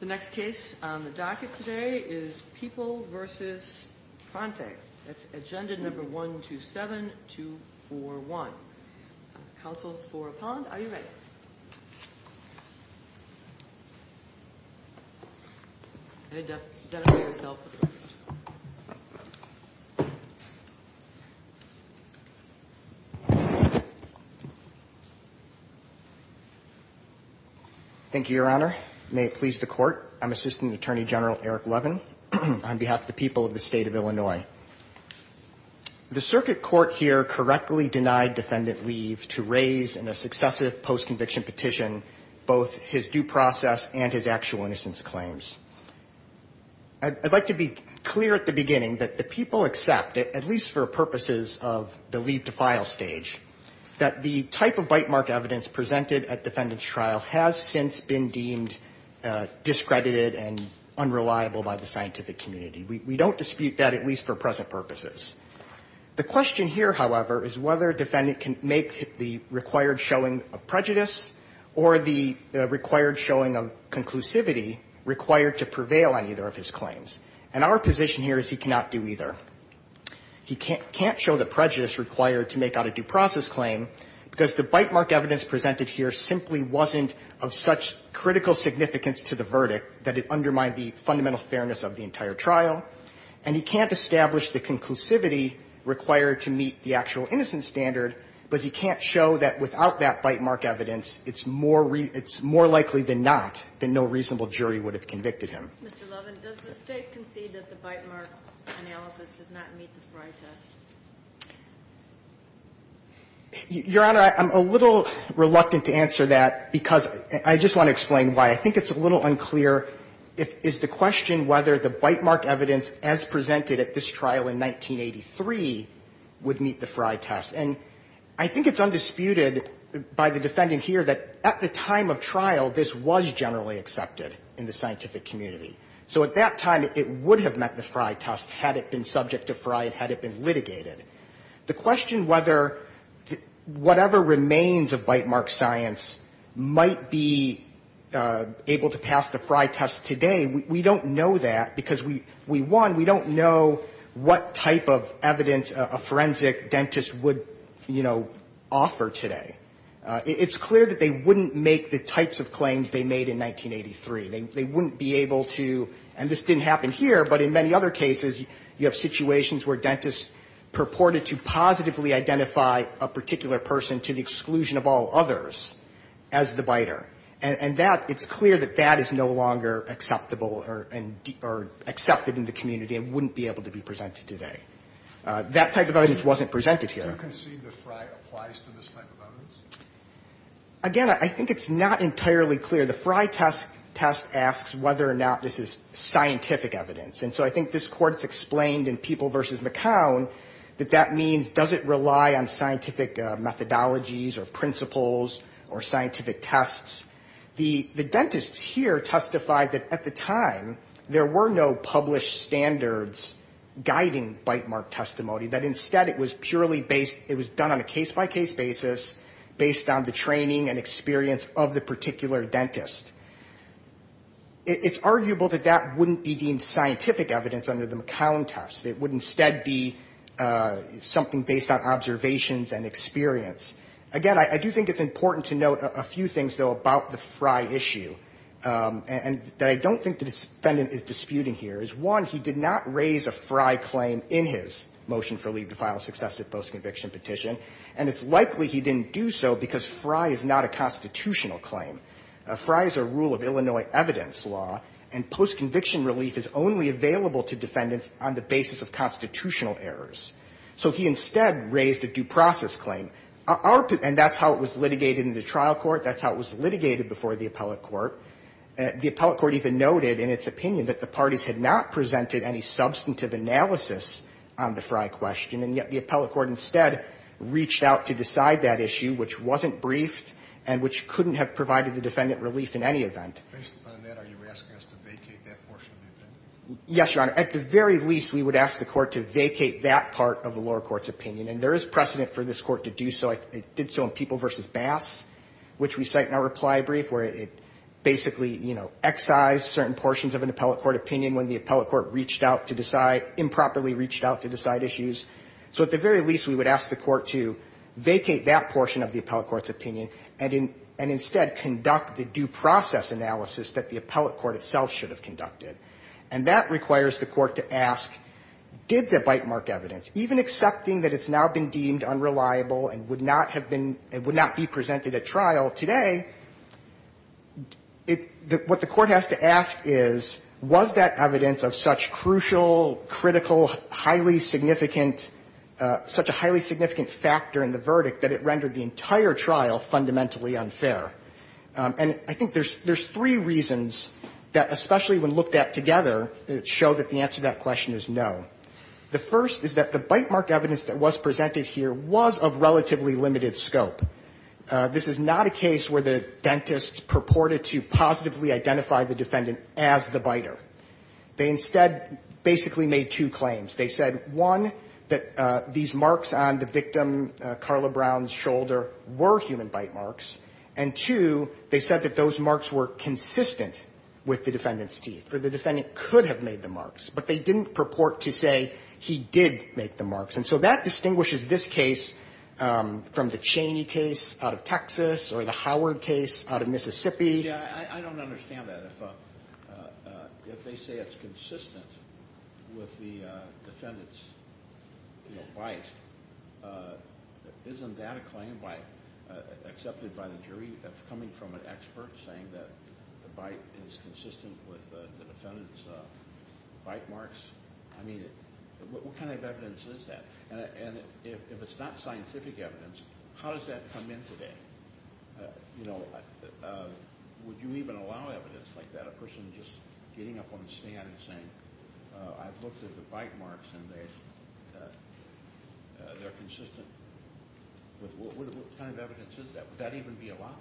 The next case on the docket today is People v. Prante. That's agenda number 127241. Counsel for Pond, are you ready? Identify yourself for the record. Thank you, Your Honor. May it please the court. I'm Assistant Attorney General Eric Levin on behalf of the people of the state of Illinois. The circuit court here correctly denied defendant leave to raise in a successive post-conviction petition both his due process and his actual innocence claims. I'd like to be clear at the beginning that the people accept, at least for purposes of the leave-to-file stage, that the type of bite-mark evidence presented at defendant's trial has since been deemed discredited and unreliable by the scientific community. We don't dispute that, at least for present purposes. The question here, however, is whether a defendant can make the required showing of prejudice or the required showing of conclusivity required to prevail on either of his claims. And our position here is he cannot do either. He can't show the prejudice required to make out a due process claim because the bite-mark evidence presented here simply wasn't of such critical significance to the verdict that it undermined the fundamental fairness of the entire trial. And he can't establish the conclusivity required to meet the actual innocence standard, but he can't show that without that bite-mark evidence, it's more likely than not, than no reasonable jury would have convicted him. Kagan, Mr. Levin, does the State concede that the bite-mark analysis does not meet the Frey test? Levin, Your Honor, I'm a little reluctant to answer that because I just want to explain why. I think it's a little unclear if the question whether the bite-mark evidence, as presented at this trial in 1983, would meet the Frey test. And I think it's undisputed by the defendant here that at the time of trial, this was generally accepted in the scientific community. So at that time, it would have met the Frey test had it been subject to Frey, had it been litigated. The question whether whatever remains of bite-mark science might be able to pass the Frey test today, we don't know that because we won. We don't know what type of evidence a forensic dentist would, you know, offer today. It's clear that they wouldn't make the types of claims they made in 1983. They wouldn't be able to, and this didn't happen here, but in many other cases, you have situations where dentists purported to positively identify a particular person to the exclusion of all others as the biter. And that, it's clear that that is no longer acceptable or accepted in the community and wouldn't be able to be presented today. That type of evidence wasn't presented here. Do you concede that Frey applies to this type of evidence? Again, I think it's not entirely clear. The Frey test asks whether or not this is scientific evidence. And so I think this court's explained in People v. McCown that that means does it rely on scientific methodologies or principles or scientific tests. The dentists here testified that at the time, there were no published standards guiding bite-mark testimony, that instead it was purely based, it was done on a case-by-case basis based on the training and experience of the particular dentist. It's arguable that that wouldn't be deemed scientific evidence under the McCown test. It would instead be something based on observations and experience. Again, I do think it's important to note a few things, though, about the Frey issue that I don't think the defendant is disputing here. One, he did not raise a Frey claim in his motion for leave to file a successive post-conviction petition. And it's likely he didn't do so because Frey is not a constitutional claim. Frey is a rule of Illinois evidence law, and post-conviction relief is only available to defendants on the basis of constitutional errors. So he instead raised a due process claim. And that's how it was litigated in the trial court. That's how it was litigated before the appellate court. The appellate court even noted in its opinion that the parties had not presented any substantive analysis on the Frey question. And yet the appellate court instead reached out to decide that issue, which wasn't briefed, and which couldn't have provided the defendant relief in any event. Based upon that, are you asking us to vacate that portion of the opinion? Yes, Your Honor. At the very least, we would ask the court to vacate that part of the lower court's opinion. And there is precedent for this court to do so. It did so in People v. Bass, which we cite in our reply brief, where it basically, you know, excised certain portions of an appellate court opinion when the appellate court reached out to decide, improperly reached out to decide issues. So at the very least, we would ask the court to vacate that portion of the appellate court's opinion, and instead conduct the due process analysis that the appellate court itself should have conducted. And that requires the court to ask, did the bite mark evidence, even accepting that it's now been deemed unreliable and would not have been, would not be presented at trial today, what the court has to ask is, was that evidence of such crucial, critical, highly significant, such a highly significant factor in the verdict that it rendered the entire trial fundamentally unfair? And I think there's three reasons that, especially when looked at together, show that the answer to that question is no. The first is that the bite mark evidence that was presented here was of relatively limited scope. This is not a case where the dentist purported to positively identify the defendant as the biter. They instead basically made two claims. They said, one, that these marks on the victim, Carla Brown's shoulder, were human bite marks, and, two, they said that those marks were consistent with the defendant's teeth, or the defendant could have made the marks, but they didn't purport to say he did make the marks. And so that distinguishes this case from the Chaney case out of Texas or the Howard case out of Mississippi. Yeah, I don't understand that. If they say it's consistent with the defendant's bite, isn't that a claim by, accepted by the jury as coming from an expert saying that the bite, is consistent with the defendant's bite marks? I mean, what kind of evidence is that? And if it's not scientific evidence, how does that come in today? You know, would you even allow evidence like that? A person just getting up on a stand and saying, I've looked at the bite marks and they're consistent. What kind of evidence is that? Would that even be allowed?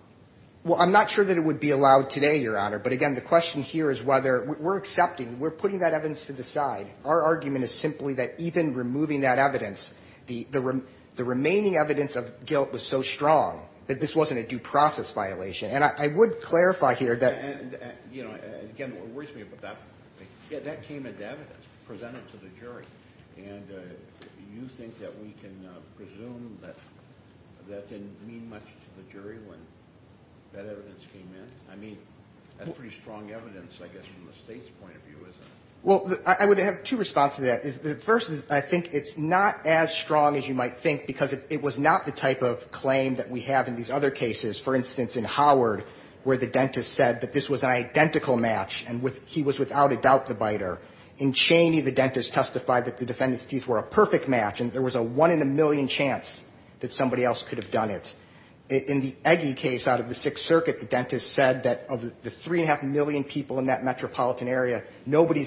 Well, I'm not sure that it would be allowed today, Your Honor, but again, the question here is whether, we're accepting, we're putting that evidence to the side. Our argument is simply that even removing that evidence, the remaining evidence of guilt was so strong that this wasn't a due process violation. And I would clarify here that... Again, it worries me, but that came into evidence, presented to the jury. And you think that we can presume that that didn't mean much to the jury when that evidence came in? I mean, that's pretty strong evidence, I guess, from the state's point of view, isn't it? Well, I would have two responses to that. The first is, I think it's not as strong as you might think, because it was not the type of claim that we have in these other cases. For instance, in Howard, where the dentist said that this was an identical match and he was without a doubt the biter. In Cheney, the dentist testified that the defendant's teeth were a perfect match and there was a one-in-a-million chance that somebody else could have done it. In the Egge case out of the Sixth Circuit, the dentist said that of the three-and-a-half million people in that metropolitan area, nobody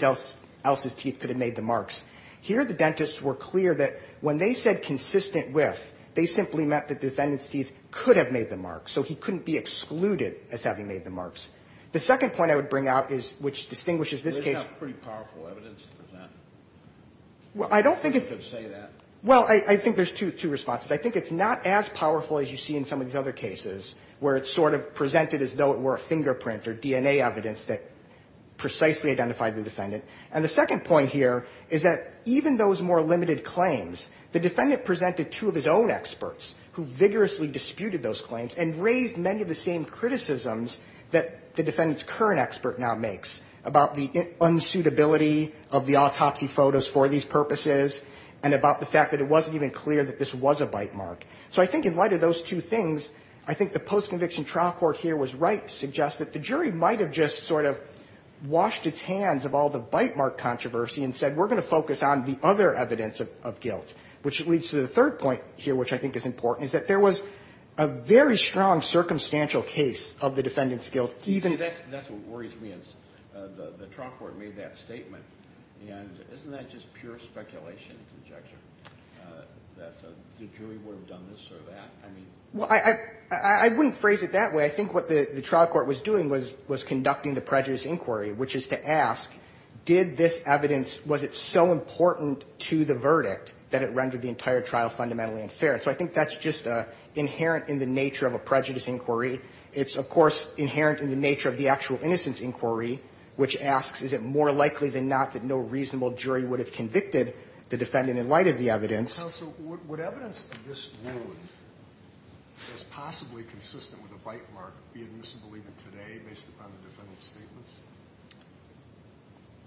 else's teeth could have made the marks. Here, the dentists were clear that when they said consistent with, they simply meant that the defendant's teeth could have made the marks. So he couldn't be excluded as having made the marks. The second point I would bring up is, which distinguishes this case. Well, I don't think it's... Well, I think there's two responses. I think it's not as powerful as you see in some of these other cases, where it's sort of presented as though it were a fingerprint or DNA evidence that precisely identified the defendant. And the second point here is that even those more limited claims, the defendant presented two of his own experts who vigorously disputed those claims and raised many of the same criticisms that the defendant's current expert now makes about the unsuitability of the autopsy photos for these purposes and about the fact that it wasn't even clear that this was a bite mark. So I think in light of those two things, I think the postconviction trial court here was right to suggest that the jury might have just sort of washed its hands of all the bite mark controversy and said, we're going to focus on the other evidence of guilt. Which leads to the third point here, which I think is important, is that there was a very strong circumstantial case of the defendant's guilt, even... That's what worries me, is the trial court made that statement, and isn't that just pure speculation and conjecture, that the jury would have done this or that? Well, I wouldn't phrase it that way. I would phrase it as, did this evidence, was it so important to the verdict that it rendered the entire trial fundamentally unfair? And so I think that's just inherent in the nature of a prejudice inquiry. It's, of course, inherent in the nature of the actual innocence inquiry, which asks, is it more likely than not that no reasonable jury would have convicted the defendant in light of the evidence? Counsel, would evidence of this wound as possibly consistent with a bite mark be admissible even today, based upon the defendant's statements?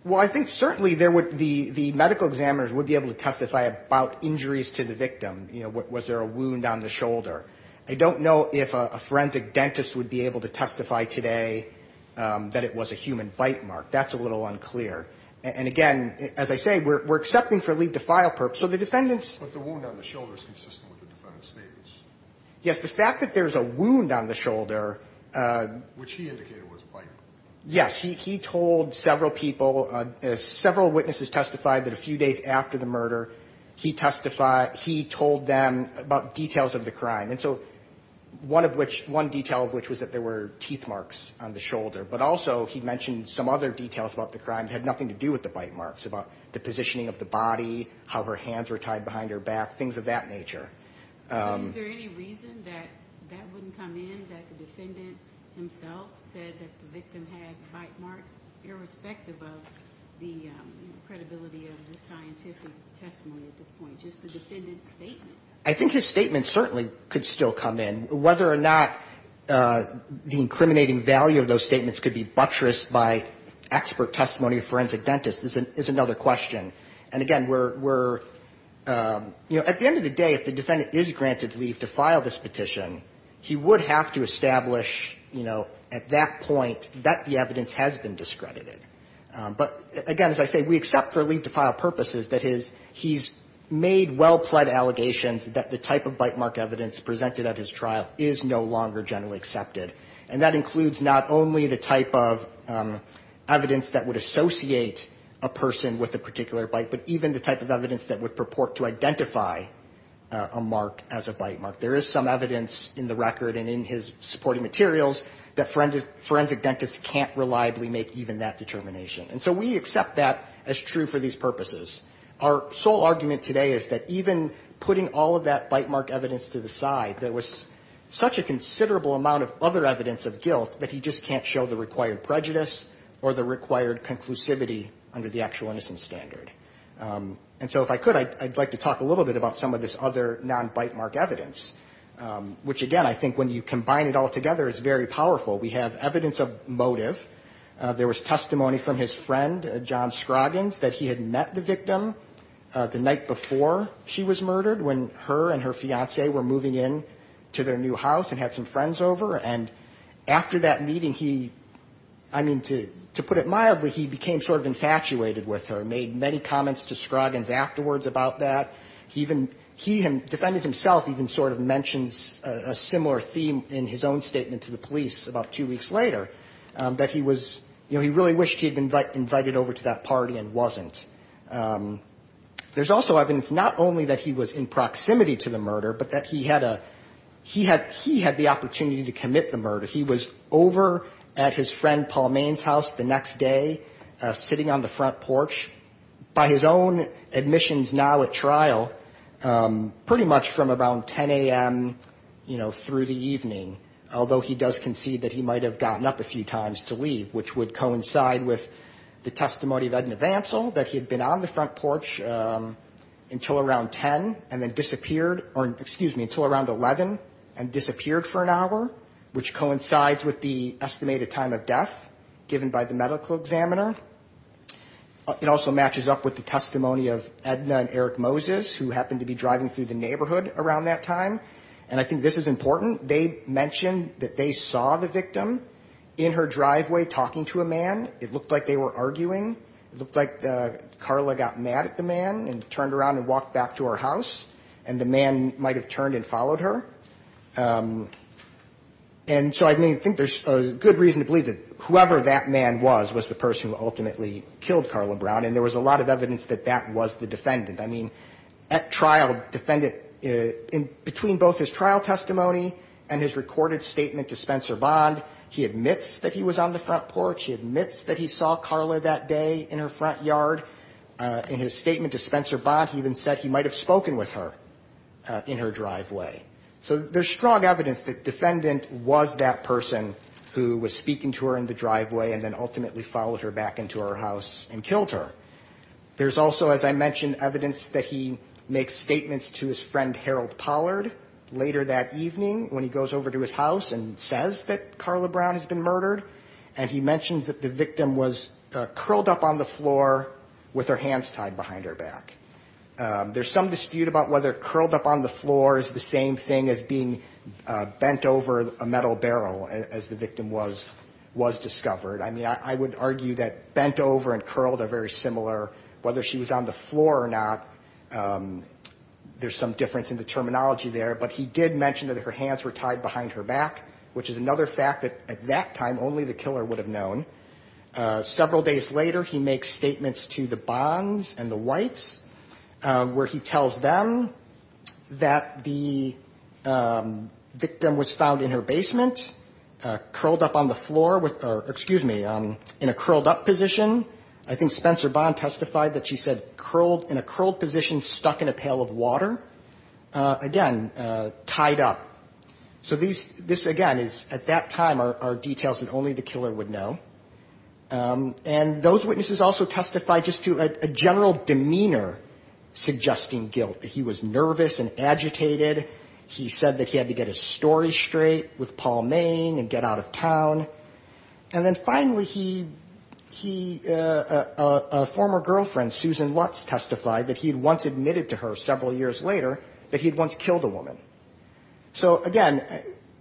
Well, I think certainly the medical examiners would be able to testify about injuries to the victim. You know, was there a wound on the shoulder? I don't know if a forensic dentist would be able to testify today that it was a human bite mark. That's a little unclear. And again, as I say, we're accepting for leave to file purposes, so the defendant's... But the wound on the shoulder is consistent with the defendant's statements. Yes, the fact that there's a wound on the shoulder... Which he indicated was a bite mark. Yes, he told several people, several witnesses testified that a few days after the murder, he testified, he told them about details of the crime. And so one of which, one detail of which was that there were teeth marks on the shoulder. But also he mentioned some other details about the crime that had nothing to do with the bite marks, about the positioning of the body, how her hands were tied behind her back, things of that nature. Is there any reason that that wouldn't come in, that the defendant himself said that the victim had bite marks, irrespective of the credibility of the scientific testimony at this point? Just the defendant's statement? I think his statement certainly could still come in. Whether or not the incriminating value of those statements could be buttressed by expert testimony of forensic dentists is another question. But again, if the defendant is granted leave to file this petition, he would have to establish, you know, at that point that the evidence has been discredited. But again, as I say, we accept for leave to file purposes that his, he's made well-pled allegations that the type of bite mark evidence presented at his trial is no longer generally accepted. And that includes not only the type of evidence that would associate a person with a particular bite, but even the type of evidence that would purport to identify a murder. And so we accept that as true for these purposes. Our sole argument today is that even putting all of that bite mark evidence to the side, there was such a considerable amount of other evidence of guilt that he just can't show the required prejudice or the required conclusivity under the actual innocence standard. And so if I could, I'd like to talk a little bit about some of this other non-bite mark evidence, which again, I think when you combine it all together, it's very powerful. We have evidence of motive. There was testimony from his friend, John Scroggins, that he had met the victim the night before she was murdered, when her and her fiancé were moving in to their new house and had some friends over. And after that meeting, he, I mean, to put it mildly, he became sort of infatuated with her. Made many comments to Scroggins afterwards about that. He even, he defended himself, even sort of mentions a similar theme in his own statement to the police about two weeks later, that he was, you know, he really wished he had been invited over to that party and wasn't. There's also evidence not only that he was in proximity to the murder, but that he had a, he had, he had the opportunity to commit the murder. He was over at his friend Paul Main's house the next day, sitting on the front porch. By his own admissions now at trial, pretty much from about 10 a.m., you know, through the evening, although he does concede that he might have gotten up a few times to leave, which would coincide with the testimony of Edna Vancell, that he had been on the front porch until around 10 and then disappeared, or excuse me, until around 11 and disappeared for an hour, which coincides with the estimated time of death given by the medical examiner. It also matches up with the testimony of Edna and Eric Moses, who happened to be driving through the neighborhood around that time. And I think this is important. They mentioned that they saw the victim in her driveway talking to a man. It looked like they were arguing. It looked like Carla got mad at the man and turned around and walked back to her house, and the man might have turned and followed her. And the man ultimately killed Carla Brown, and there was a lot of evidence that that was the defendant. I mean, at trial, defendant, between both his trial testimony and his recorded statement to Spencer Bond, he admits that he was on the front porch. He admits that he saw Carla that day in her front yard. In his statement to Spencer Bond, he even said he might have spoken with her in her driveway. So there's strong evidence that defendant was that person who was speaking to her in the driveway and then ultimately followed her back into her driveway. And then went back into her house and killed her. There's also, as I mentioned, evidence that he makes statements to his friend, Harold Pollard, later that evening, when he goes over to his house and says that Carla Brown has been murdered. And he mentions that the victim was curled up on the floor with her hands tied behind her back. There's some dispute about whether curled up on the floor is the same thing as being bent over a metal barrel, as the victim was discovered. I mean, I would argue that bent over and curled are very similar, whether she was on the floor or not, there's some difference in the terminology there. But he did mention that her hands were tied behind her back, which is another fact that at that time, only the killer would have known. Several days later, he makes statements to the Bonds and the Whites, where he tells them that the victim was found in her basement, curled up on the floor with her hands tied behind her back. And then, finally, in a curled up position, I think Spencer Bond testified that she said curled, in a curled position, stuck in a pail of water, again, tied up. So this, again, is, at that time, are details that only the killer would know. And those witnesses also testified just to a general demeanor suggesting guilt. He was nervous and agitated. He said that he had to get his story straight with Paul Main and get out of town. And then, finally, he, a former girlfriend, Susan Lutz, testified that he had once admitted to her, several years later, that he had once killed a woman. So, again,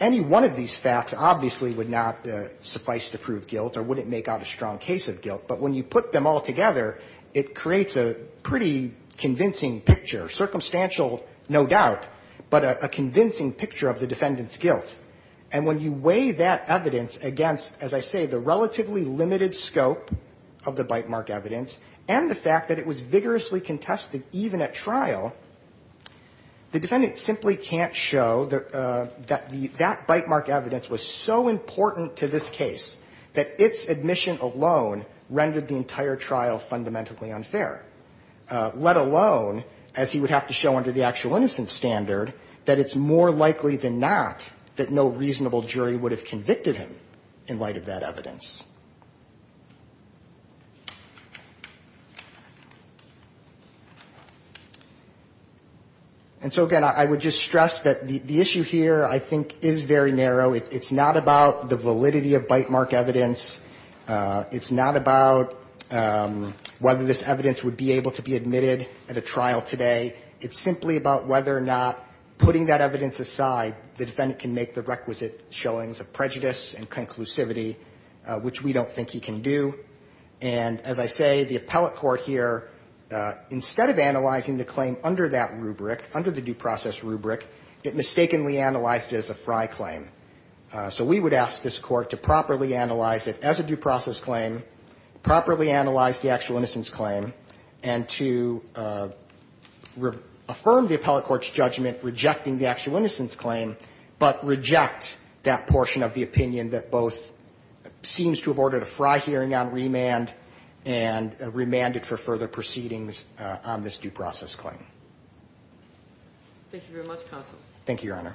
any one of these facts obviously would not suffice to prove guilt or wouldn't make out a strong case of guilt. But when you put them all together, it creates a pretty convincing picture. Circumstantial, no doubt, but a convincing picture of the defendant's guilt. And when you weigh that evidence against, as I say, the relatively limited scope of the bite mark evidence and the fact that it was vigorously contested, even at trial, the defendant simply can't show that that bite mark evidence was so important to this case that its admission alone rendered the entire trial fundamentally unfair. Let alone, as he would have to show under the actual innocence standard, that it's more likely than not that no reasonable jury would have convicted him in light of that evidence. And so, again, I would just stress that the issue here, I think, is very narrow. It's not about the validity of bite mark evidence. It's not about whether this evidence would be able to be admitted at a trial today. It's simply about whether or not, putting that evidence aside, the defendant can make the requisite showings of prejudice and conclusivity, which we don't think he can do. And, as I say, the appellate court here, instead of analyzing the claim under that rubric, under the due process rubric, it mistakenly analyzed it as a fry claim. So we would ask this court to properly analyze it as a due process claim, properly analyze the actual innocence claim, and to affirm the appellate court's judgment, rejecting the actual innocence claim, but reject that portion of the opinion that both seems to have ordered a fry hearing on remand and remanded for further proceedings on this due process claim. Thank you very much, Counsel. Thank you, Your Honor.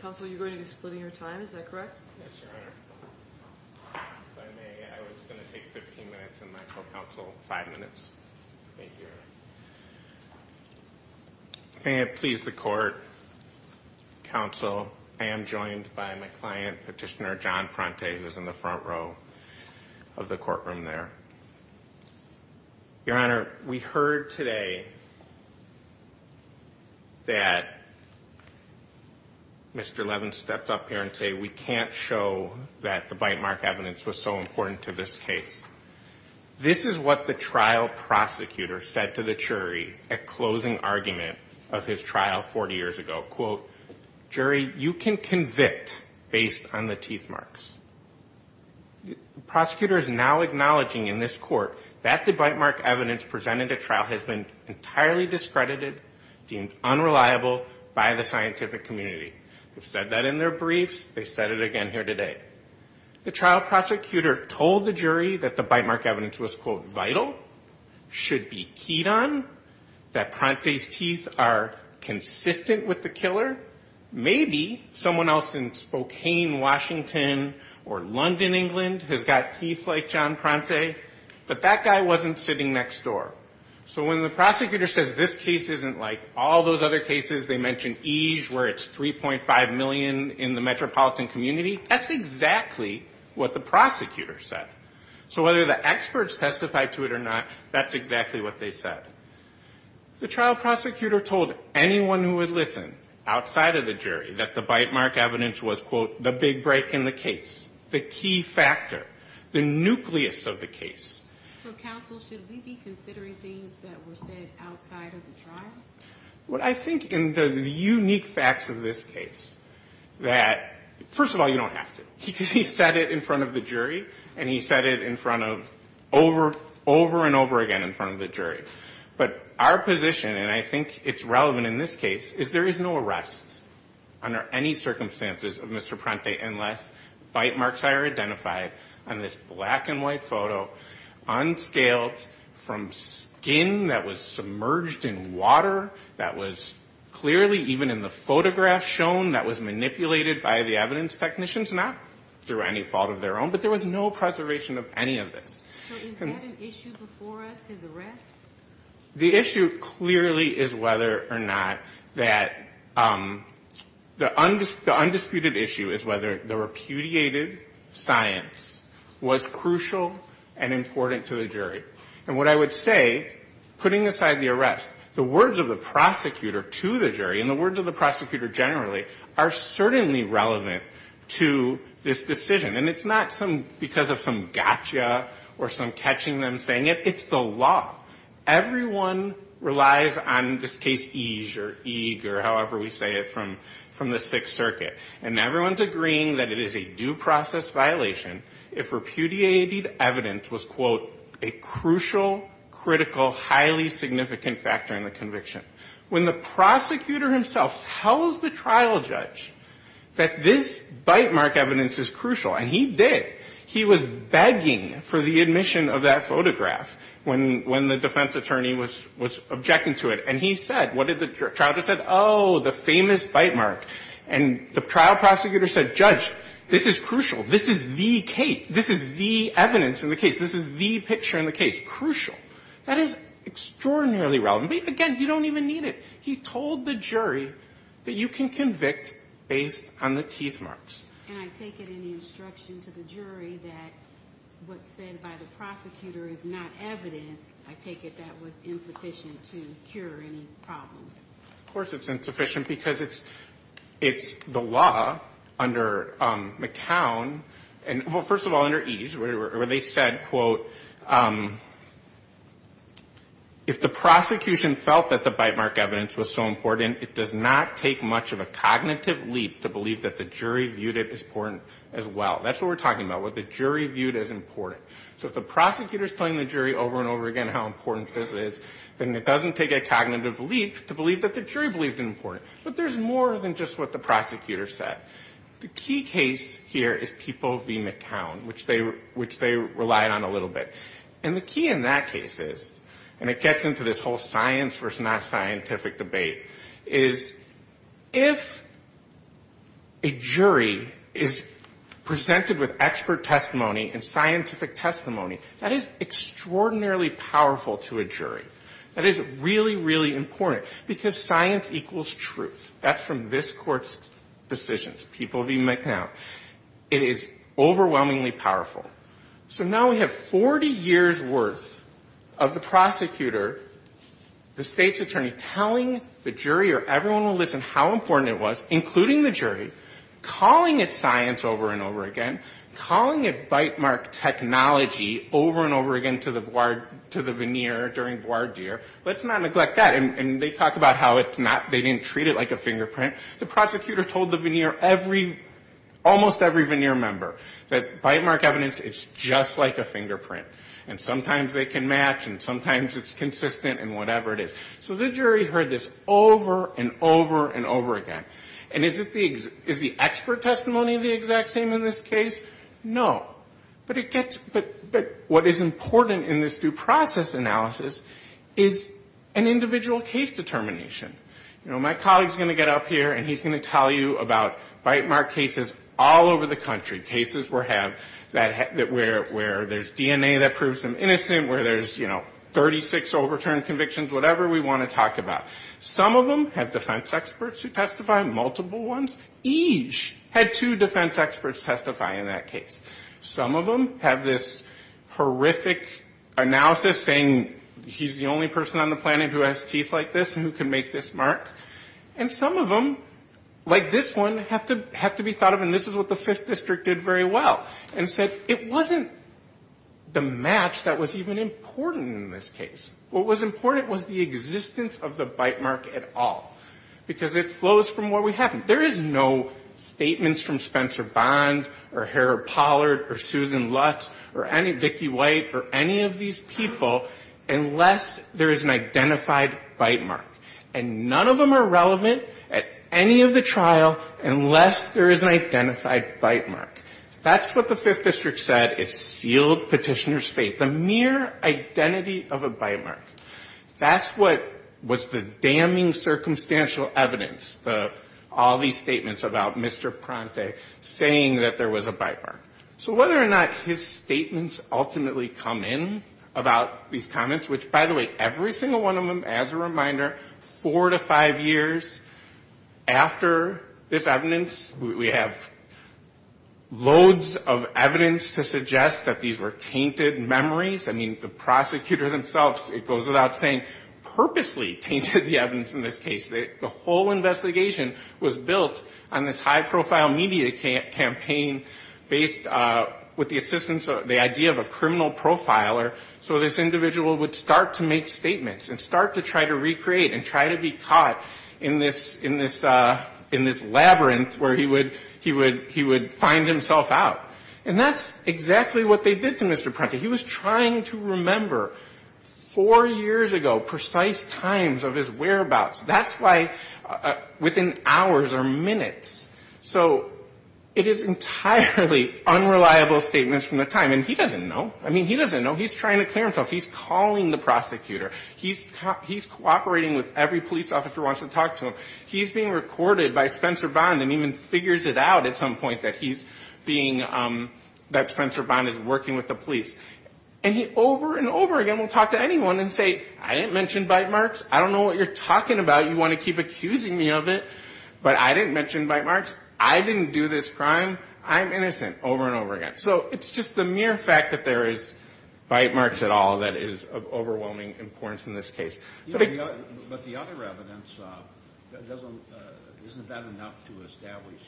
Counsel, you're going to be splitting your time, is that correct? Okay, I was going to take 15 minutes, and my co-counsel, 5 minutes. May it please the Court, Counsel, I am joined by my client, Petitioner John Pronte, who's in the front row of the courtroom there. Your Honor, we heard today that Mr. Levin stepped up here and said, we can't show that the bite mark evidence was so important to this case. This is what the trial prosecutor said to the jury at closing argument of his trial 40 years ago. Quote, jury, you can convict based on the teeth marks. Prosecutor is now acknowledging in this court that the bite mark evidence presented at trial has been entirely discredited, deemed unreliable by the scientific community. We've said that in their briefs, they said it again here today. The trial prosecutor told the jury that the bite mark evidence was, quote, vital, should be keyed on, that Pronte's teeth are consistent with the killer. Maybe someone else in Spokane, Washington, or London, England, has got teeth like John Pronte, but that guy wasn't sitting next door. So when the prosecutor says this case isn't like all those other cases, they mention EJE, where it's 3.5 million in the metropolitan community, that's exactly what the prosecutor said. So whether the experts testified to it or not, that's exactly what they said. The trial prosecutor told anyone who would listen outside of the jury that the bite mark evidence was, quote, the big break in the case, the key factor, the nucleus of the case. Are there any other things that were said outside of the trial? I think in the unique facts of this case that, first of all, you don't have to. He said it in front of the jury, and he said it over and over again in front of the jury. But our position, and I think it's relevant in this case, is there is no arrest under any circumstances of Mr. Pronte unless bite marks are identified on this case. So we have a black and white photo, unscaled, from skin that was submerged in water, that was clearly even in the photograph shown, that was manipulated by the evidence technicians, not through any fault of their own, but there was no preservation of any of this. So is that an issue before us, his arrest? The issue clearly is whether or not that the undisputed issue is whether the repudiated science was correct or not. And that is crucial and important to the jury. And what I would say, putting aside the arrest, the words of the prosecutor to the jury and the words of the prosecutor generally are certainly relevant to this decision. And it's not because of some gotcha or some catching them saying it. It's the law. Everyone relies on, in this case, ease or eager, however we say it, from the Sixth Circuit. And everyone's agreeing that it is a due process violation if repudiated evidence was, quote, a crucial, critical, highly significant factor in the conviction. When the prosecutor himself tells the trial judge that this bite mark evidence is crucial, and he did, he was begging for the admission of that photograph when the defense attorney was objecting to it. And he said, what did the trial judge say? Oh, the famous bite mark. And the trial prosecutor said, Judge, this is crucial. This is the case. This is the evidence in the case. This is the picture in the case. Crucial. That is extraordinarily relevant. But, again, you don't even need it. He told the jury that you can convict based on the teeth marks. And I take it in the instruction to the jury that what's said by the prosecutor is not evidence. I take it that was insufficient to cure any problem. Of course it's insufficient, because it's the law under McCown, and, well, first of all, under ease, where they said, quote, if the prosecution felt that the bite mark evidence was so important, it does not take much of a cognitive leap to believe that the jury viewed it as important as well. That's what we're talking about, what the jury viewed as important. So if the prosecutor is telling the jury over and over again how important it is, it does not take much of a cognitive leap to believe that the jury believed it important. But there's more than just what the prosecutor said. The key case here is People v. McCown, which they relied on a little bit. And the key in that case is, and it gets into this whole science versus not scientific debate, is if a jury is presented with expert testimony and scientific testimony, that is really important. Because science equals truth. That's from this Court's decisions, People v. McCown. It is overwhelmingly powerful. So now we have 40 years' worth of the prosecutor, the state's attorney, telling the jury or everyone who listened how important it was, including the jury, calling it science over and over again, calling it bite mark technology over and over again to the veneer during the trial. And they talk about how they didn't treat it like a fingerprint. The prosecutor told the veneer every, almost every veneer member that bite mark evidence is just like a fingerprint. And sometimes they can match and sometimes it's consistent and whatever it is. So the jury heard this over and over and over again. And is the expert testimony the exact same in this case? No. But it gets, but what is important in this case, through process analysis, is an individual case determination. You know, my colleague is going to get up here and he's going to tell you about bite mark cases all over the country. Cases where there's DNA that proves them innocent, where there's, you know, 36 overturned convictions, whatever we want to talk about. Some of them have defense experts who testify, multiple ones. Each had two defense experts testify in that case. Some of them have this horrific analysis saying he's the only person on the planet who has teeth like this and who can make this mark. And some of them, like this one, have to be thought of, and this is what the Fifth District did very well, and said it wasn't the match that was even important in this case. What was important was the existence of the bite mark at all. Because it flows from what we have. There is no statements from Spencer Bond or Harold Pollard or Susan Lutz or any, Vicki White, or any of these people unless there is an identified bite mark. And none of them are relevant at any of the trial unless there is an identified bite mark. That's what the Fifth District said. It sealed Petitioner's faith. The mere identity of a bite mark. That's what was the damning circumstantial evidence. All these statements about Mr. Pronte saying that there was a bite mark. So whether or not his statements ultimately come in about these comments, which, by the way, every single one of them, as a reminder, four to five years after this evidence, we have loads of evidence to suggest that these were tainted memories. I mean, the whole investigation was built on this high-profile media campaign based with the assistance of the idea of a criminal profiler. So this individual would start to make statements and start to try to recreate and try to be caught in this labyrinth where he would find himself out. And that's exactly what they did to Mr. Pronte. He was trying to remember four years ago, precise times of his death. And that's why within hours or minutes. So it is entirely unreliable statements from the time. And he doesn't know. I mean, he doesn't know. He's trying to clear himself. He's calling the prosecutor. He's cooperating with every police officer who wants to talk to him. He's being recorded by Spencer Bond and even figures it out at some point that he's being, that Spencer Bond is working with the police. And he over and over again will talk to anyone and say, I didn't mention bite marks. I don't know what you're talking about. You want to keep accusing me of it. But I didn't mention bite marks. I didn't do this crime. I'm innocent, over and over again. So it's just the mere fact that there is bite marks at all that is of overwhelming importance in this case. But the other evidence, isn't that enough to establish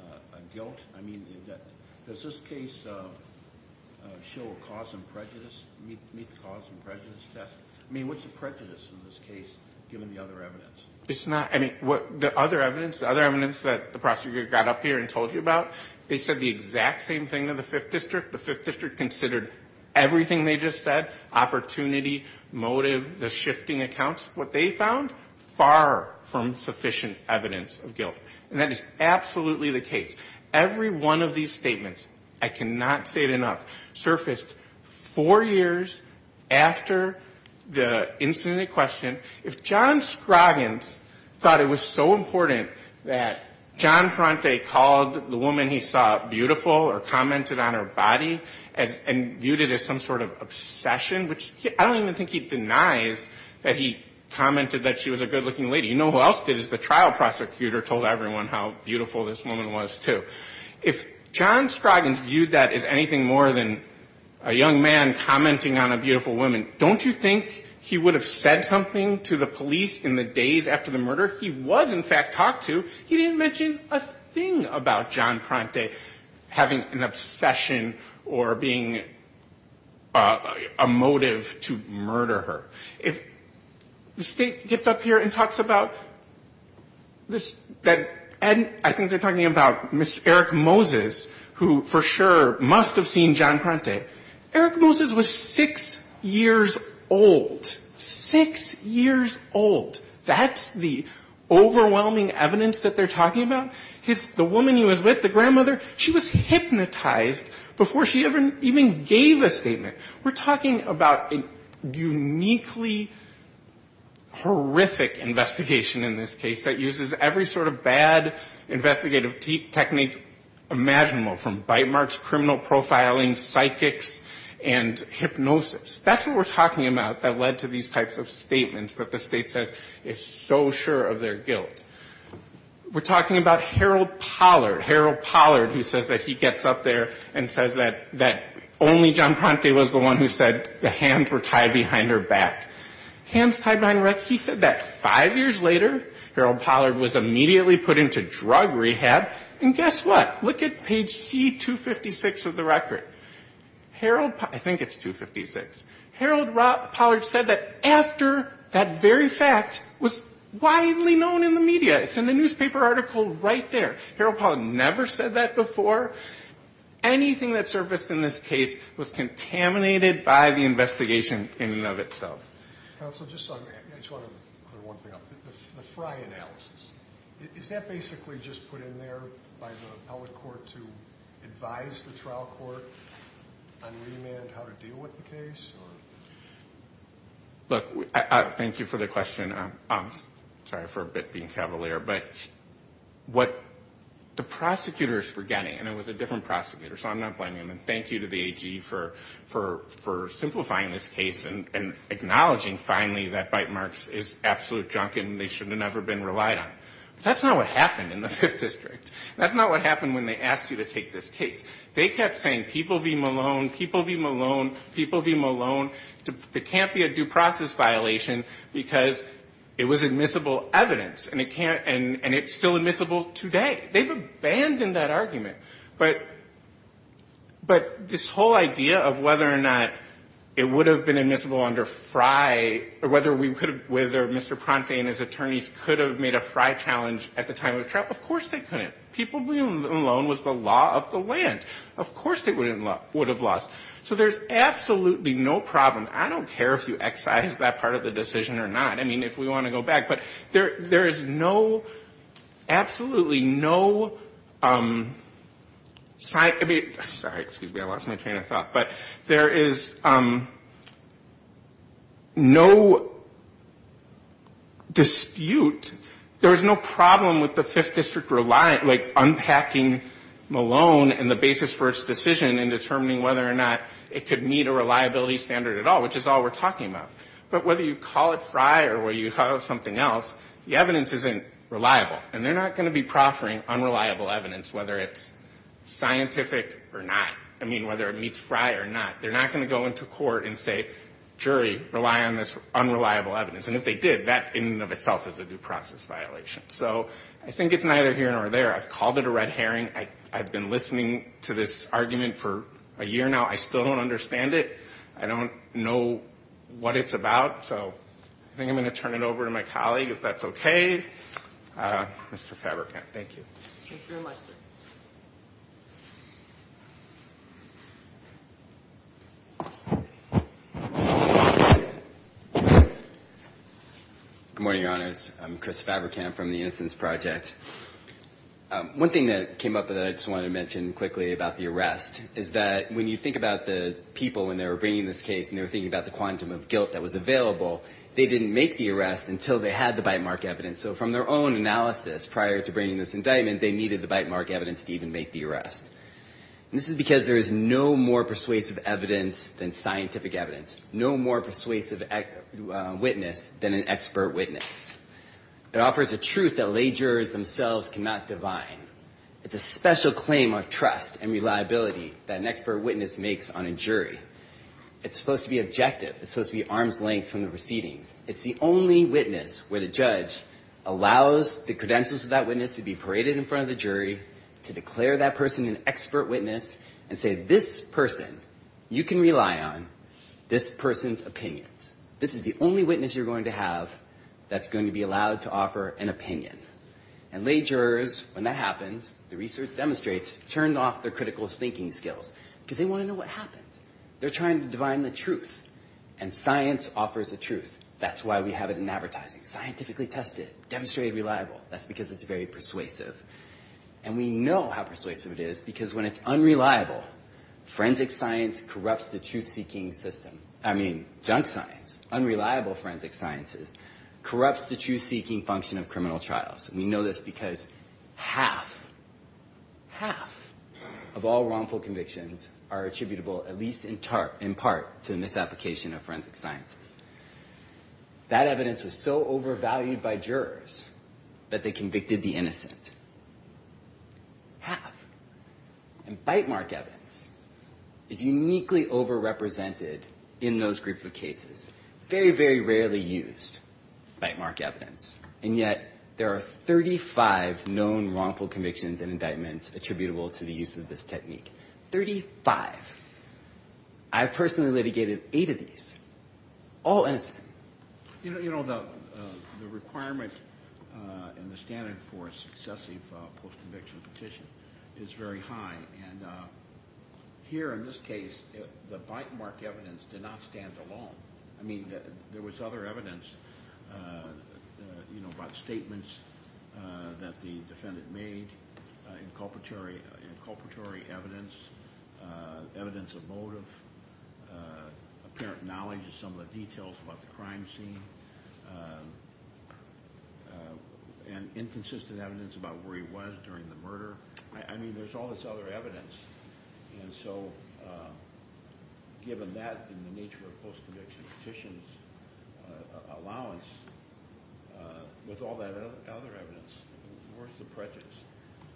a guilt? I mean, does this case show a cause and prejudice, meet the cause and prejudice of the case, given the other evidence? It's not. I mean, the other evidence, the other evidence that the prosecutor got up here and told you about, they said the exact same thing to the Fifth District. The Fifth District considered everything they just said, opportunity, motive, the shifting accounts. What they found, far from sufficient evidence of guilt. And that is absolutely the case. Every one of these statements, I cannot say enough, surfaced four years after the incident at question. If John Scroggins thought it was so important that John Parente called the woman he saw beautiful or commented on her body and viewed it as some sort of obsession, which I don't even think he denies that he commented that she was a good-looking lady. You know who else did? The trial prosecutor told everyone how beautiful this woman was, too. If John Scroggins viewed that as anything more than a young man commenting on a beautiful woman, don't you think he would have said something to the police in the days after the murder? He was, in fact, talked to. He didn't mention a thing about John Parente having an obsession or being a motive to murder her. If the State gets up here and talks about this, that, and I think they're talking about misrepresentation of the case, Eric Moses, who for sure must have seen John Parente, Eric Moses was six years old. Six years old. That's the overwhelming evidence that they're talking about? The woman he was with, the grandmother, she was hypnotized before she even gave a statement. We're talking about a uniquely horrific investigation in this case that uses every sort of bad investigative technique imaginable, from bite marks, criminal profiling, psychics, and hypnosis. That's what we're talking about that led to these types of statements that the State says is so sure of their guilt. We're talking about Harold Pollard. Harold Pollard who says that he gets up there and says that only John Parente was the one who said the hands were tied behind her back. Hands tied behind her back, he said that five years later, Harold Pollard was immediately put into drug rehab. And guess what? Look at page C256 of the record. Harold Pollard, I think it's 256. Harold Pollard said that after that very fact was widely known in the media. It's in the newspaper article right there. Harold Pollard never said that before. Anything that surfaced in this case was contaminated by the investigation in and of itself. And that's my analysis. Is that basically just put in there by the appellate court to advise the trial court on remand, how to deal with the case? Look, thank you for the question. Sorry for being cavalier. But what the prosecutor is forgetting, and it was a different prosecutor, so I'm not blaming him, and thank you to the AG for simplifying this case and acknowledging finally that bite and relied on it. That's not what happened in the Fifth District. That's not what happened when they asked you to take this case. They kept saying people v. Malone, people v. Malone, people v. Malone. It can't be a due process violation because it was admissible evidence, and it's still admissible today. They've abandoned that argument. But this whole idea of whether or not it would have been admissible under Frye, or whether we could have, whether Mr. Conte and his attorneys could have made a Frye challenge at the time of the trial, of course they couldn't. People v. Malone was the law of the land. Of course they would have lost. So there's absolutely no problem. I don't care if you excise that part of the decision or not. I mean, if we want to go back. But there is no, absolutely no, sorry, excuse me, I lost my train of thought, but there is no, there is absolutely no dispute, there is no problem with the Fifth District, like, unpacking Malone and the basis for its decision and determining whether or not it could meet a reliability standard at all, which is all we're talking about. But whether you call it Frye or whether you call it something else, the evidence isn't reliable. And they're not going to be proffering unreliable evidence, whether it's scientific or not. I mean, whether it meets Frye or not. They're not going to go into court and say, jury, rely on this unreliable evidence. And if they did, that in and of itself is a due process violation. So I think it's neither here nor there. I've called it a red herring. I've been listening to this argument for a year now. I still don't understand it. I don't know what it's about. So I think I'm going to turn it over to my colleague, if that's okay. Mr. Fabrikant. Thank you. Good morning, Your Honors. I'm Chris Fabrikant from the Innocence Project. One thing that came up that I just wanted to mention quickly about the arrest is that when you think about the people when they were bringing this case and they were thinking about the quantum of guilt that was available, they didn't make the arrest until they had the bite mark evidence. So from their own analysis prior to bringing this indictment, they needed the bite mark evidence to even make the arrest. This is because there is no more persuasive evidence than scientific evidence. No more persuasive witness than an expert witness. It offers a truth that lay jurors themselves cannot divine. It's a special claim of trust and reliability that an expert witness makes on a jury. It's supposed to be objective. It's supposed to be arm's length from the proceedings. It's the only witness where the judge allows the credentials of that witness to be paraded in front of the jury, to declare that person an expert witness, and say, this person you can rely on, this person's opinions. This is the only witness you're going to have that's going to be allowed to offer an opinion. And lay jurors, when that happens, the research demonstrates, turn off their critical thinking skills. Because they want to know what happened. They're trying to divine the truth. And science offers a truth. That's why we have it in advertising. Scientifically tested. Demonstrated reliable. That's because it's very persuasive. And we know how persuasive it is, because when it's unreliable, forensic science corrupts the truth-seeking system. I mean, junk science. Unreliable forensic science corrupts the truth-seeking function of criminal trials. And we know this because half, half of all wrongful convictions are attributable, at least in part, to the misapplication. Misapplication of forensic sciences. That evidence was so overvalued by jurors that they convicted the innocent. Half. And bite mark evidence is uniquely overrepresented in those groups of cases. Very, very rarely used bite mark evidence. And yet there are 35 known wrongful convictions and indictments attributable to the use of this technique. Thirty-five. I've personally litigated eight of these. All innocent. You know, the requirement and the standard for a successive post-conviction petition is very high. And here in this case, the bite mark evidence did not stand alone. I mean, there was other evidence, you know, about statements that the defendant made in culpatory evidence. Evidence of motive. Apparent knowledge of some of the details about the crime scene. And inconsistent evidence about where he was during the murder. I mean, there's all this other evidence. And so given that and the nature of post-conviction petitions allowance, with all that other evidence, where's the prejudice?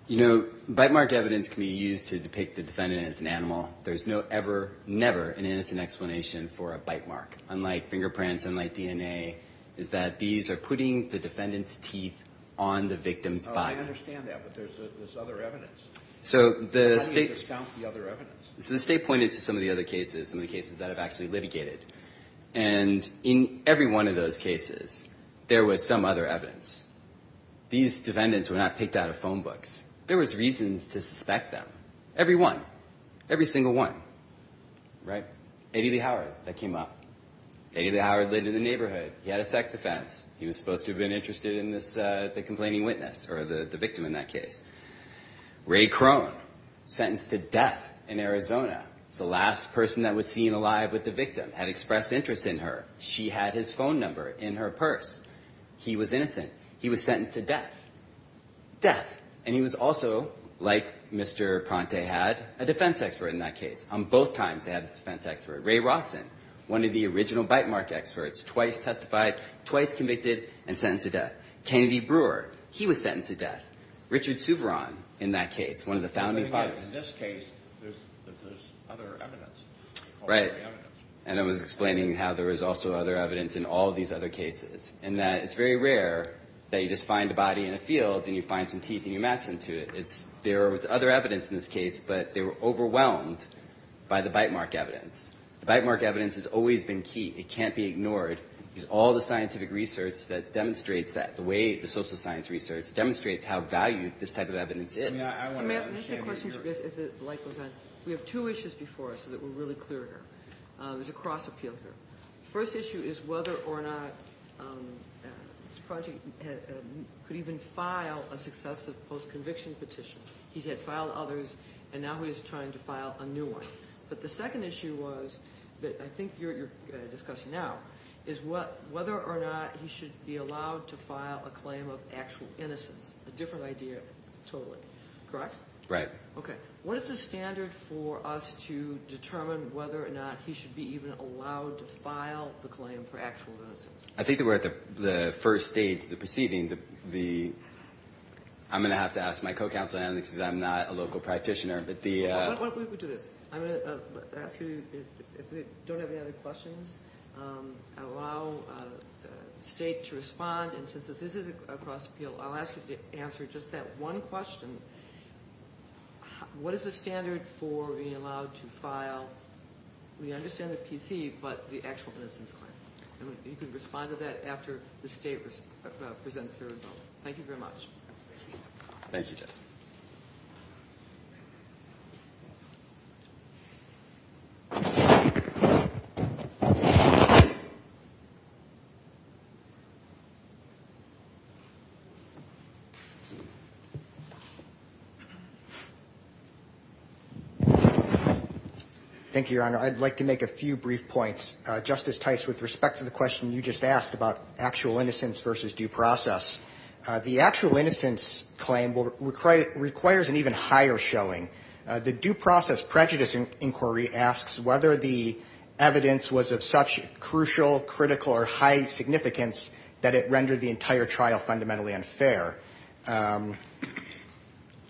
You know, bite mark evidence can be used to depict the defendant as an animal. There's no ever, never an innocent explanation for a bite mark. Unlike fingerprints, unlike DNA, is that these are putting the defendant's teeth on the victim's body. I understand that, but there's other evidence. So the state pointed to some of the other cases, some of the cases that have actually litigated. And in every one of those cases, there was some other evidence. These defendants were not picked out of phone books. There was reasons to suspect them. Every one. Every single one. Right? Eddie Lee Howard, that came up. Eddie Lee Howard lived in the neighborhood. He had a sex offense. He was supposed to have been interested in the complaining witness or the victim in that case. Ray Crone, sentenced to death in Arizona. The last person that was seen alive with the victim had expressed interest in her. She had his phone number in her purse. He was innocent. He was sentenced to death. Death. And he was also, like Mr. Ponte had, a defense expert in that case. On both times they had a defense expert. Ray Rawson, one of the original bite mark experts, twice testified, twice convicted, and sentenced to death. Kennedy Brewer. He was sentenced to death. Richard Suveron in that case, one of the founding fighters. Right. And I was explaining how there was also other evidence in all these other cases. And that it's very rare that you just find a body in a field and you find some teeth and you match them to it. There was other evidence in this case, but they were overwhelmed by the bite mark evidence. The bite mark evidence has always been key. It can't be ignored. It's all the scientific research that demonstrates that, the way the social science research demonstrates how valued this type of evidence is. We have two issues before us that were really clear here. There's a cross appeal here. First issue is whether or not this project could even file a successive post-conviction petition. He had filed others, and now he's trying to file a new one. But the second issue was, that I think you're discussing now, is whether or not he should be allowed to file a claim of actual innocence. A different idea totally. Correct? Right. What is the standard for us to determine whether or not he should be even allowed to file the claim for actual innocence? I think that we're at the first stage, the proceeding. I'm going to have to ask my co-counsel, because I'm not a local practitioner. Why don't we do this? I'm going to ask you, if you don't have any other questions, allow the state to respond. Since this is a cross appeal, I'll ask you to answer just that one question. What is the standard for being allowed to file, we understand the PC, but the actual innocence claim? You can respond to that after the state presents their vote. Thank you very much. Thank you. Thank you, Your Honor. I'd like to make a few brief points. Justice Tice, with respect to the question you just asked about actual innocence versus due process. The actual innocence claim requires an even higher showing. The due process prejudice inquiry asks whether the evidence was of such crucial, critical or high significance that it rendered the entire trial fundamentally unfair.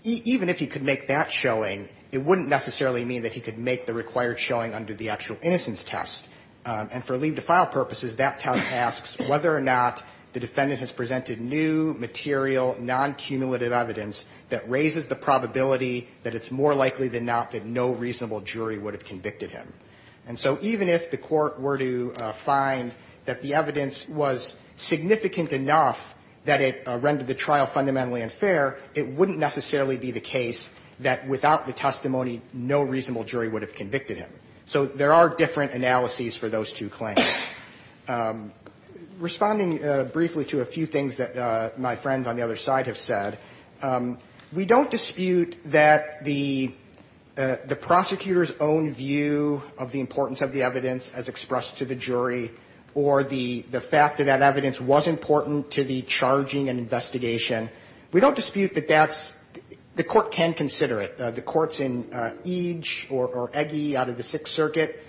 Even if he could make that showing, it wouldn't necessarily mean that he could make the required showing under the actual innocence test. And for leave to file purposes, that test asks whether or not the defendant has presented new, material, non-cumulative evidence that raises the probability that it's more likely than not that no reasonable jury would have convicted him. And so even if the court were to find that the evidence was significant enough that it rendered the trial fundamentally unfair, it wouldn't necessarily be the case that without the testimony, no reasonable jury would have convicted him. So there are different analyses for those two claims. Responding briefly to a few things that my friends on the other side have said, we don't dispute that the prosecutor's own view of the importance of the evidence as expressed to the jury or the fact that that evidence was important to the charging and investigation. We don't dispute that that's the court can consider it. The courts in Eage or Egge out of the Sixth Circuit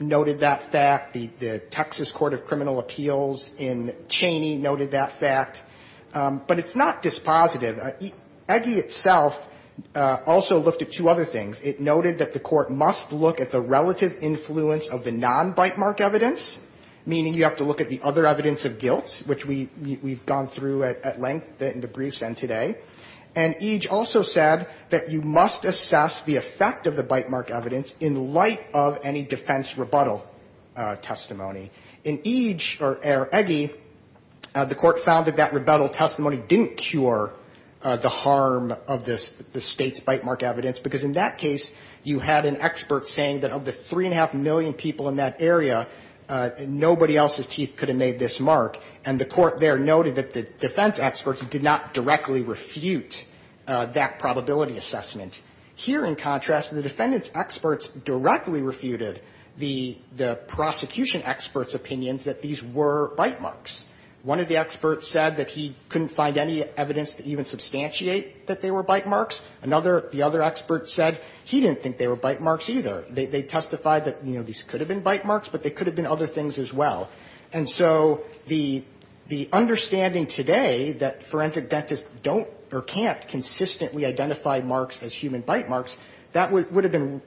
noted that fact. The Texas Court of Criminal Appeals in Cheney noted that fact. But it's not dispositive. Egge itself also looked at two other things. It noted that the court must look at the relative influence of the non-bitemark evidence, meaning you have to look at the other evidence of guilt, which we've gone through at length in the briefs and today. And Eage also said that you must assess the effect of the bitemark evidence in light of any defense rebuttal testimony. In Eage or Egge, the court found that that rebuttal testimony didn't cure the harm of the State's bitemark evidence, because in that case, you had an expert saying that of the three and a half million people in that area, nobody else's teeth could have made this mark. And the court there noted that the defense experts did not directly refute that probability assessment. Here, in contrast, the defendant's experts directly refuted the prosecution expert's opinions that these were bitemarks. One of the experts said that he couldn't find any evidence to even substantiate that they were bitemarks. Another, the other expert said he didn't think they were bitemarks either. They testified that, you know, these could have been bitemarks, but they could have been other things as well. And so the understanding today that forensic dentists don't or can't consistently identify marks as human bitemarks, that would have been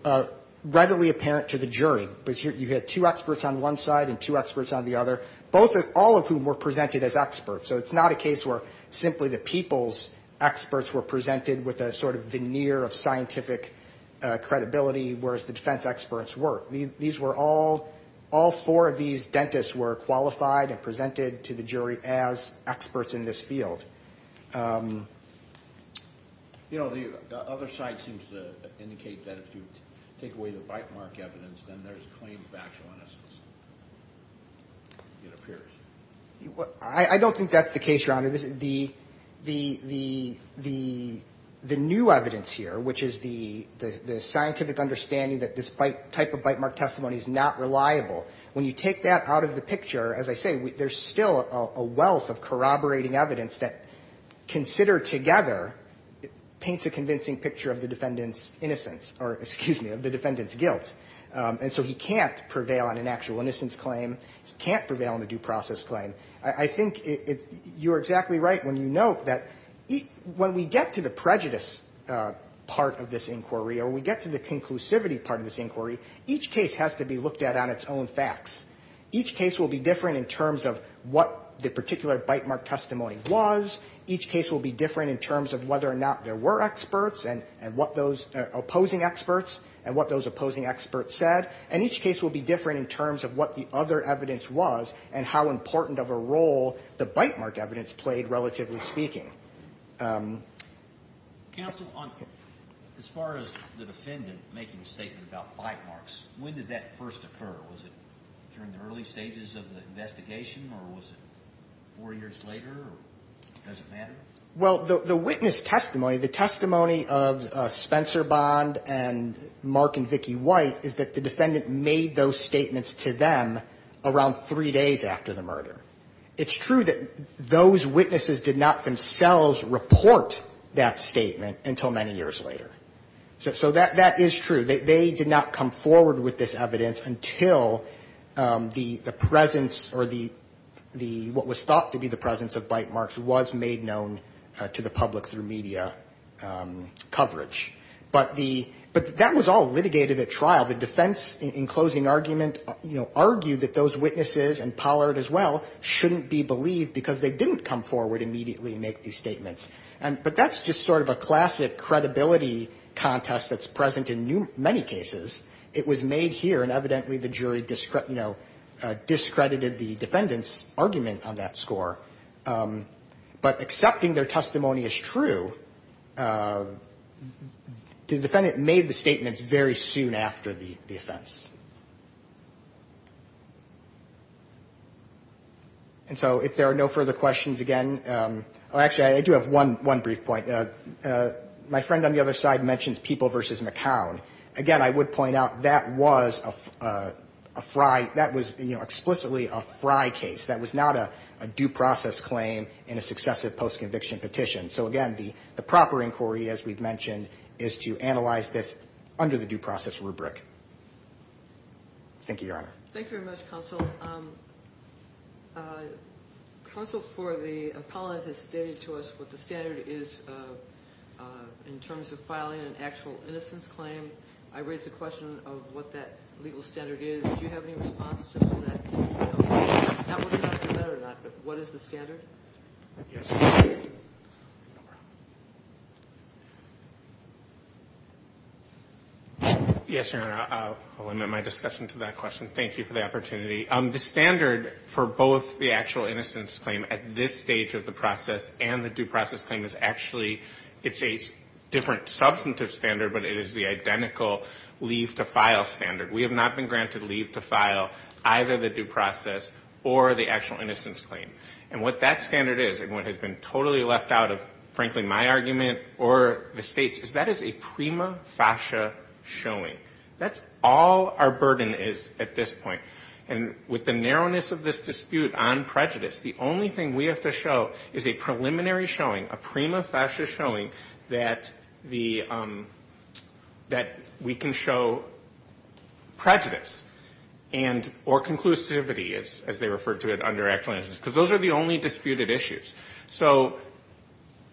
readily apparent to the jury. You had two experts on one side and two experts on the other, all of whom were presented as experts. So it's not a case where simply the people's experts were presented with a sort of veneer of scientific credibility, whereas the defense experts were. These were all, all four of these dentists were qualified and presented to the jury as experts in this field. You know, the other side seems to indicate that if you take away the bitemark evidence, then there's claims of actual innocence, it appears. I don't think that's the case, Your Honor. The new evidence here, which is the scientific understanding that this type of bitemark testimony is not reliable, when you take that out of the picture, as I say, there's still a wealth of corroborating evidence that, considered together, paints a convincing picture of the defendant's innocence, or excuse me, of the defendant's guilt. And so he can't prevail on an actual innocence claim, he can't prevail on a due process claim. I think you're exactly right when you note that when we get to the prejudice part of this inquiry, or we get to the conclusivity part of this inquiry, each case has to be looked at on its own facts. Each case will be different in terms of what the particular bitemark testimony was. Each case will be different in terms of whether or not there were experts, and what those opposing experts, and what those opposing experts said. And each case will be different in terms of what the other evidence was, and how important of a role the bitemark evidence played, relatively speaking. Counsel, as far as the defendant making a statement about bitemarks, when did that first occur? Was it during the early stages of the investigation, or was it four years later, or does it matter? Well, the witness testimony, the testimony of Spencer Bond, and Mark and Vicki White, is a witness testimony. The evidence is that the defendant made those statements to them around three days after the murder. It's true that those witnesses did not themselves report that statement until many years later. So that is true, they did not come forward with this evidence until the presence, or what was thought to be the presence of bitemarks was made known to the public through media coverage. But the, but that was all litigated at trial. The defense, in closing argument, you know, argued that those witnesses, and Pollard as well, shouldn't be believed because they didn't come forward immediately and make these statements. But that's just sort of a classic credibility contest that's present in many cases. It was made here, and evidently the jury, you know, discredited the defendant's argument on that score. But accepting their testimony as true, the defendant made the statements very soon after the offense. And so if there are no further questions, again, oh, actually, I do have one brief point. My friend on the other side mentions People v. McCown. Again, I would point out, that was a fry, that was, you know, explicitly a fry case. That was not a due process claim in a successive post-conviction petition. So again, the proper inquiry, as we've mentioned, is to analyze this under the due process rubric. Thank you, Your Honor. Thank you very much, Counsel. Counsel for the appellate has stated to us what the standard is in terms of filing an actual innocence claim. I raise the question of what that legal standard is. I don't know if you know that or not, but what is the standard? Yes, Your Honor. I'll limit my discussion to that question. Thank you for the opportunity. The standard for both the actual innocence claim at this stage of the process and the due process claim is actually, it's a different substantive standard, but it is the identical leave-to-file standard. We have not been granted leave-to-file, either the due process or the actual innocence claim. And what that standard is, and what has been totally left out of, frankly, my argument or the State's, is that is a prima facie showing. That's all our burden is at this point. And with the narrowness of this dispute on prejudice, the only thing we have to show is a preliminary showing, a prima facie showing, that the, that we can show prejudice and, or conclusivity, as they refer to it under actual innocence, because those are the only disputed issues. So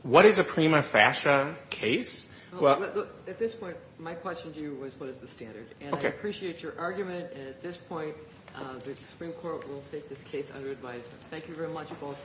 what is a prima facie case? At this point, my question to you was what is the standard? And I appreciate your argument, and at this point, the Supreme Court will take this case under advisement. Thank you very much, both.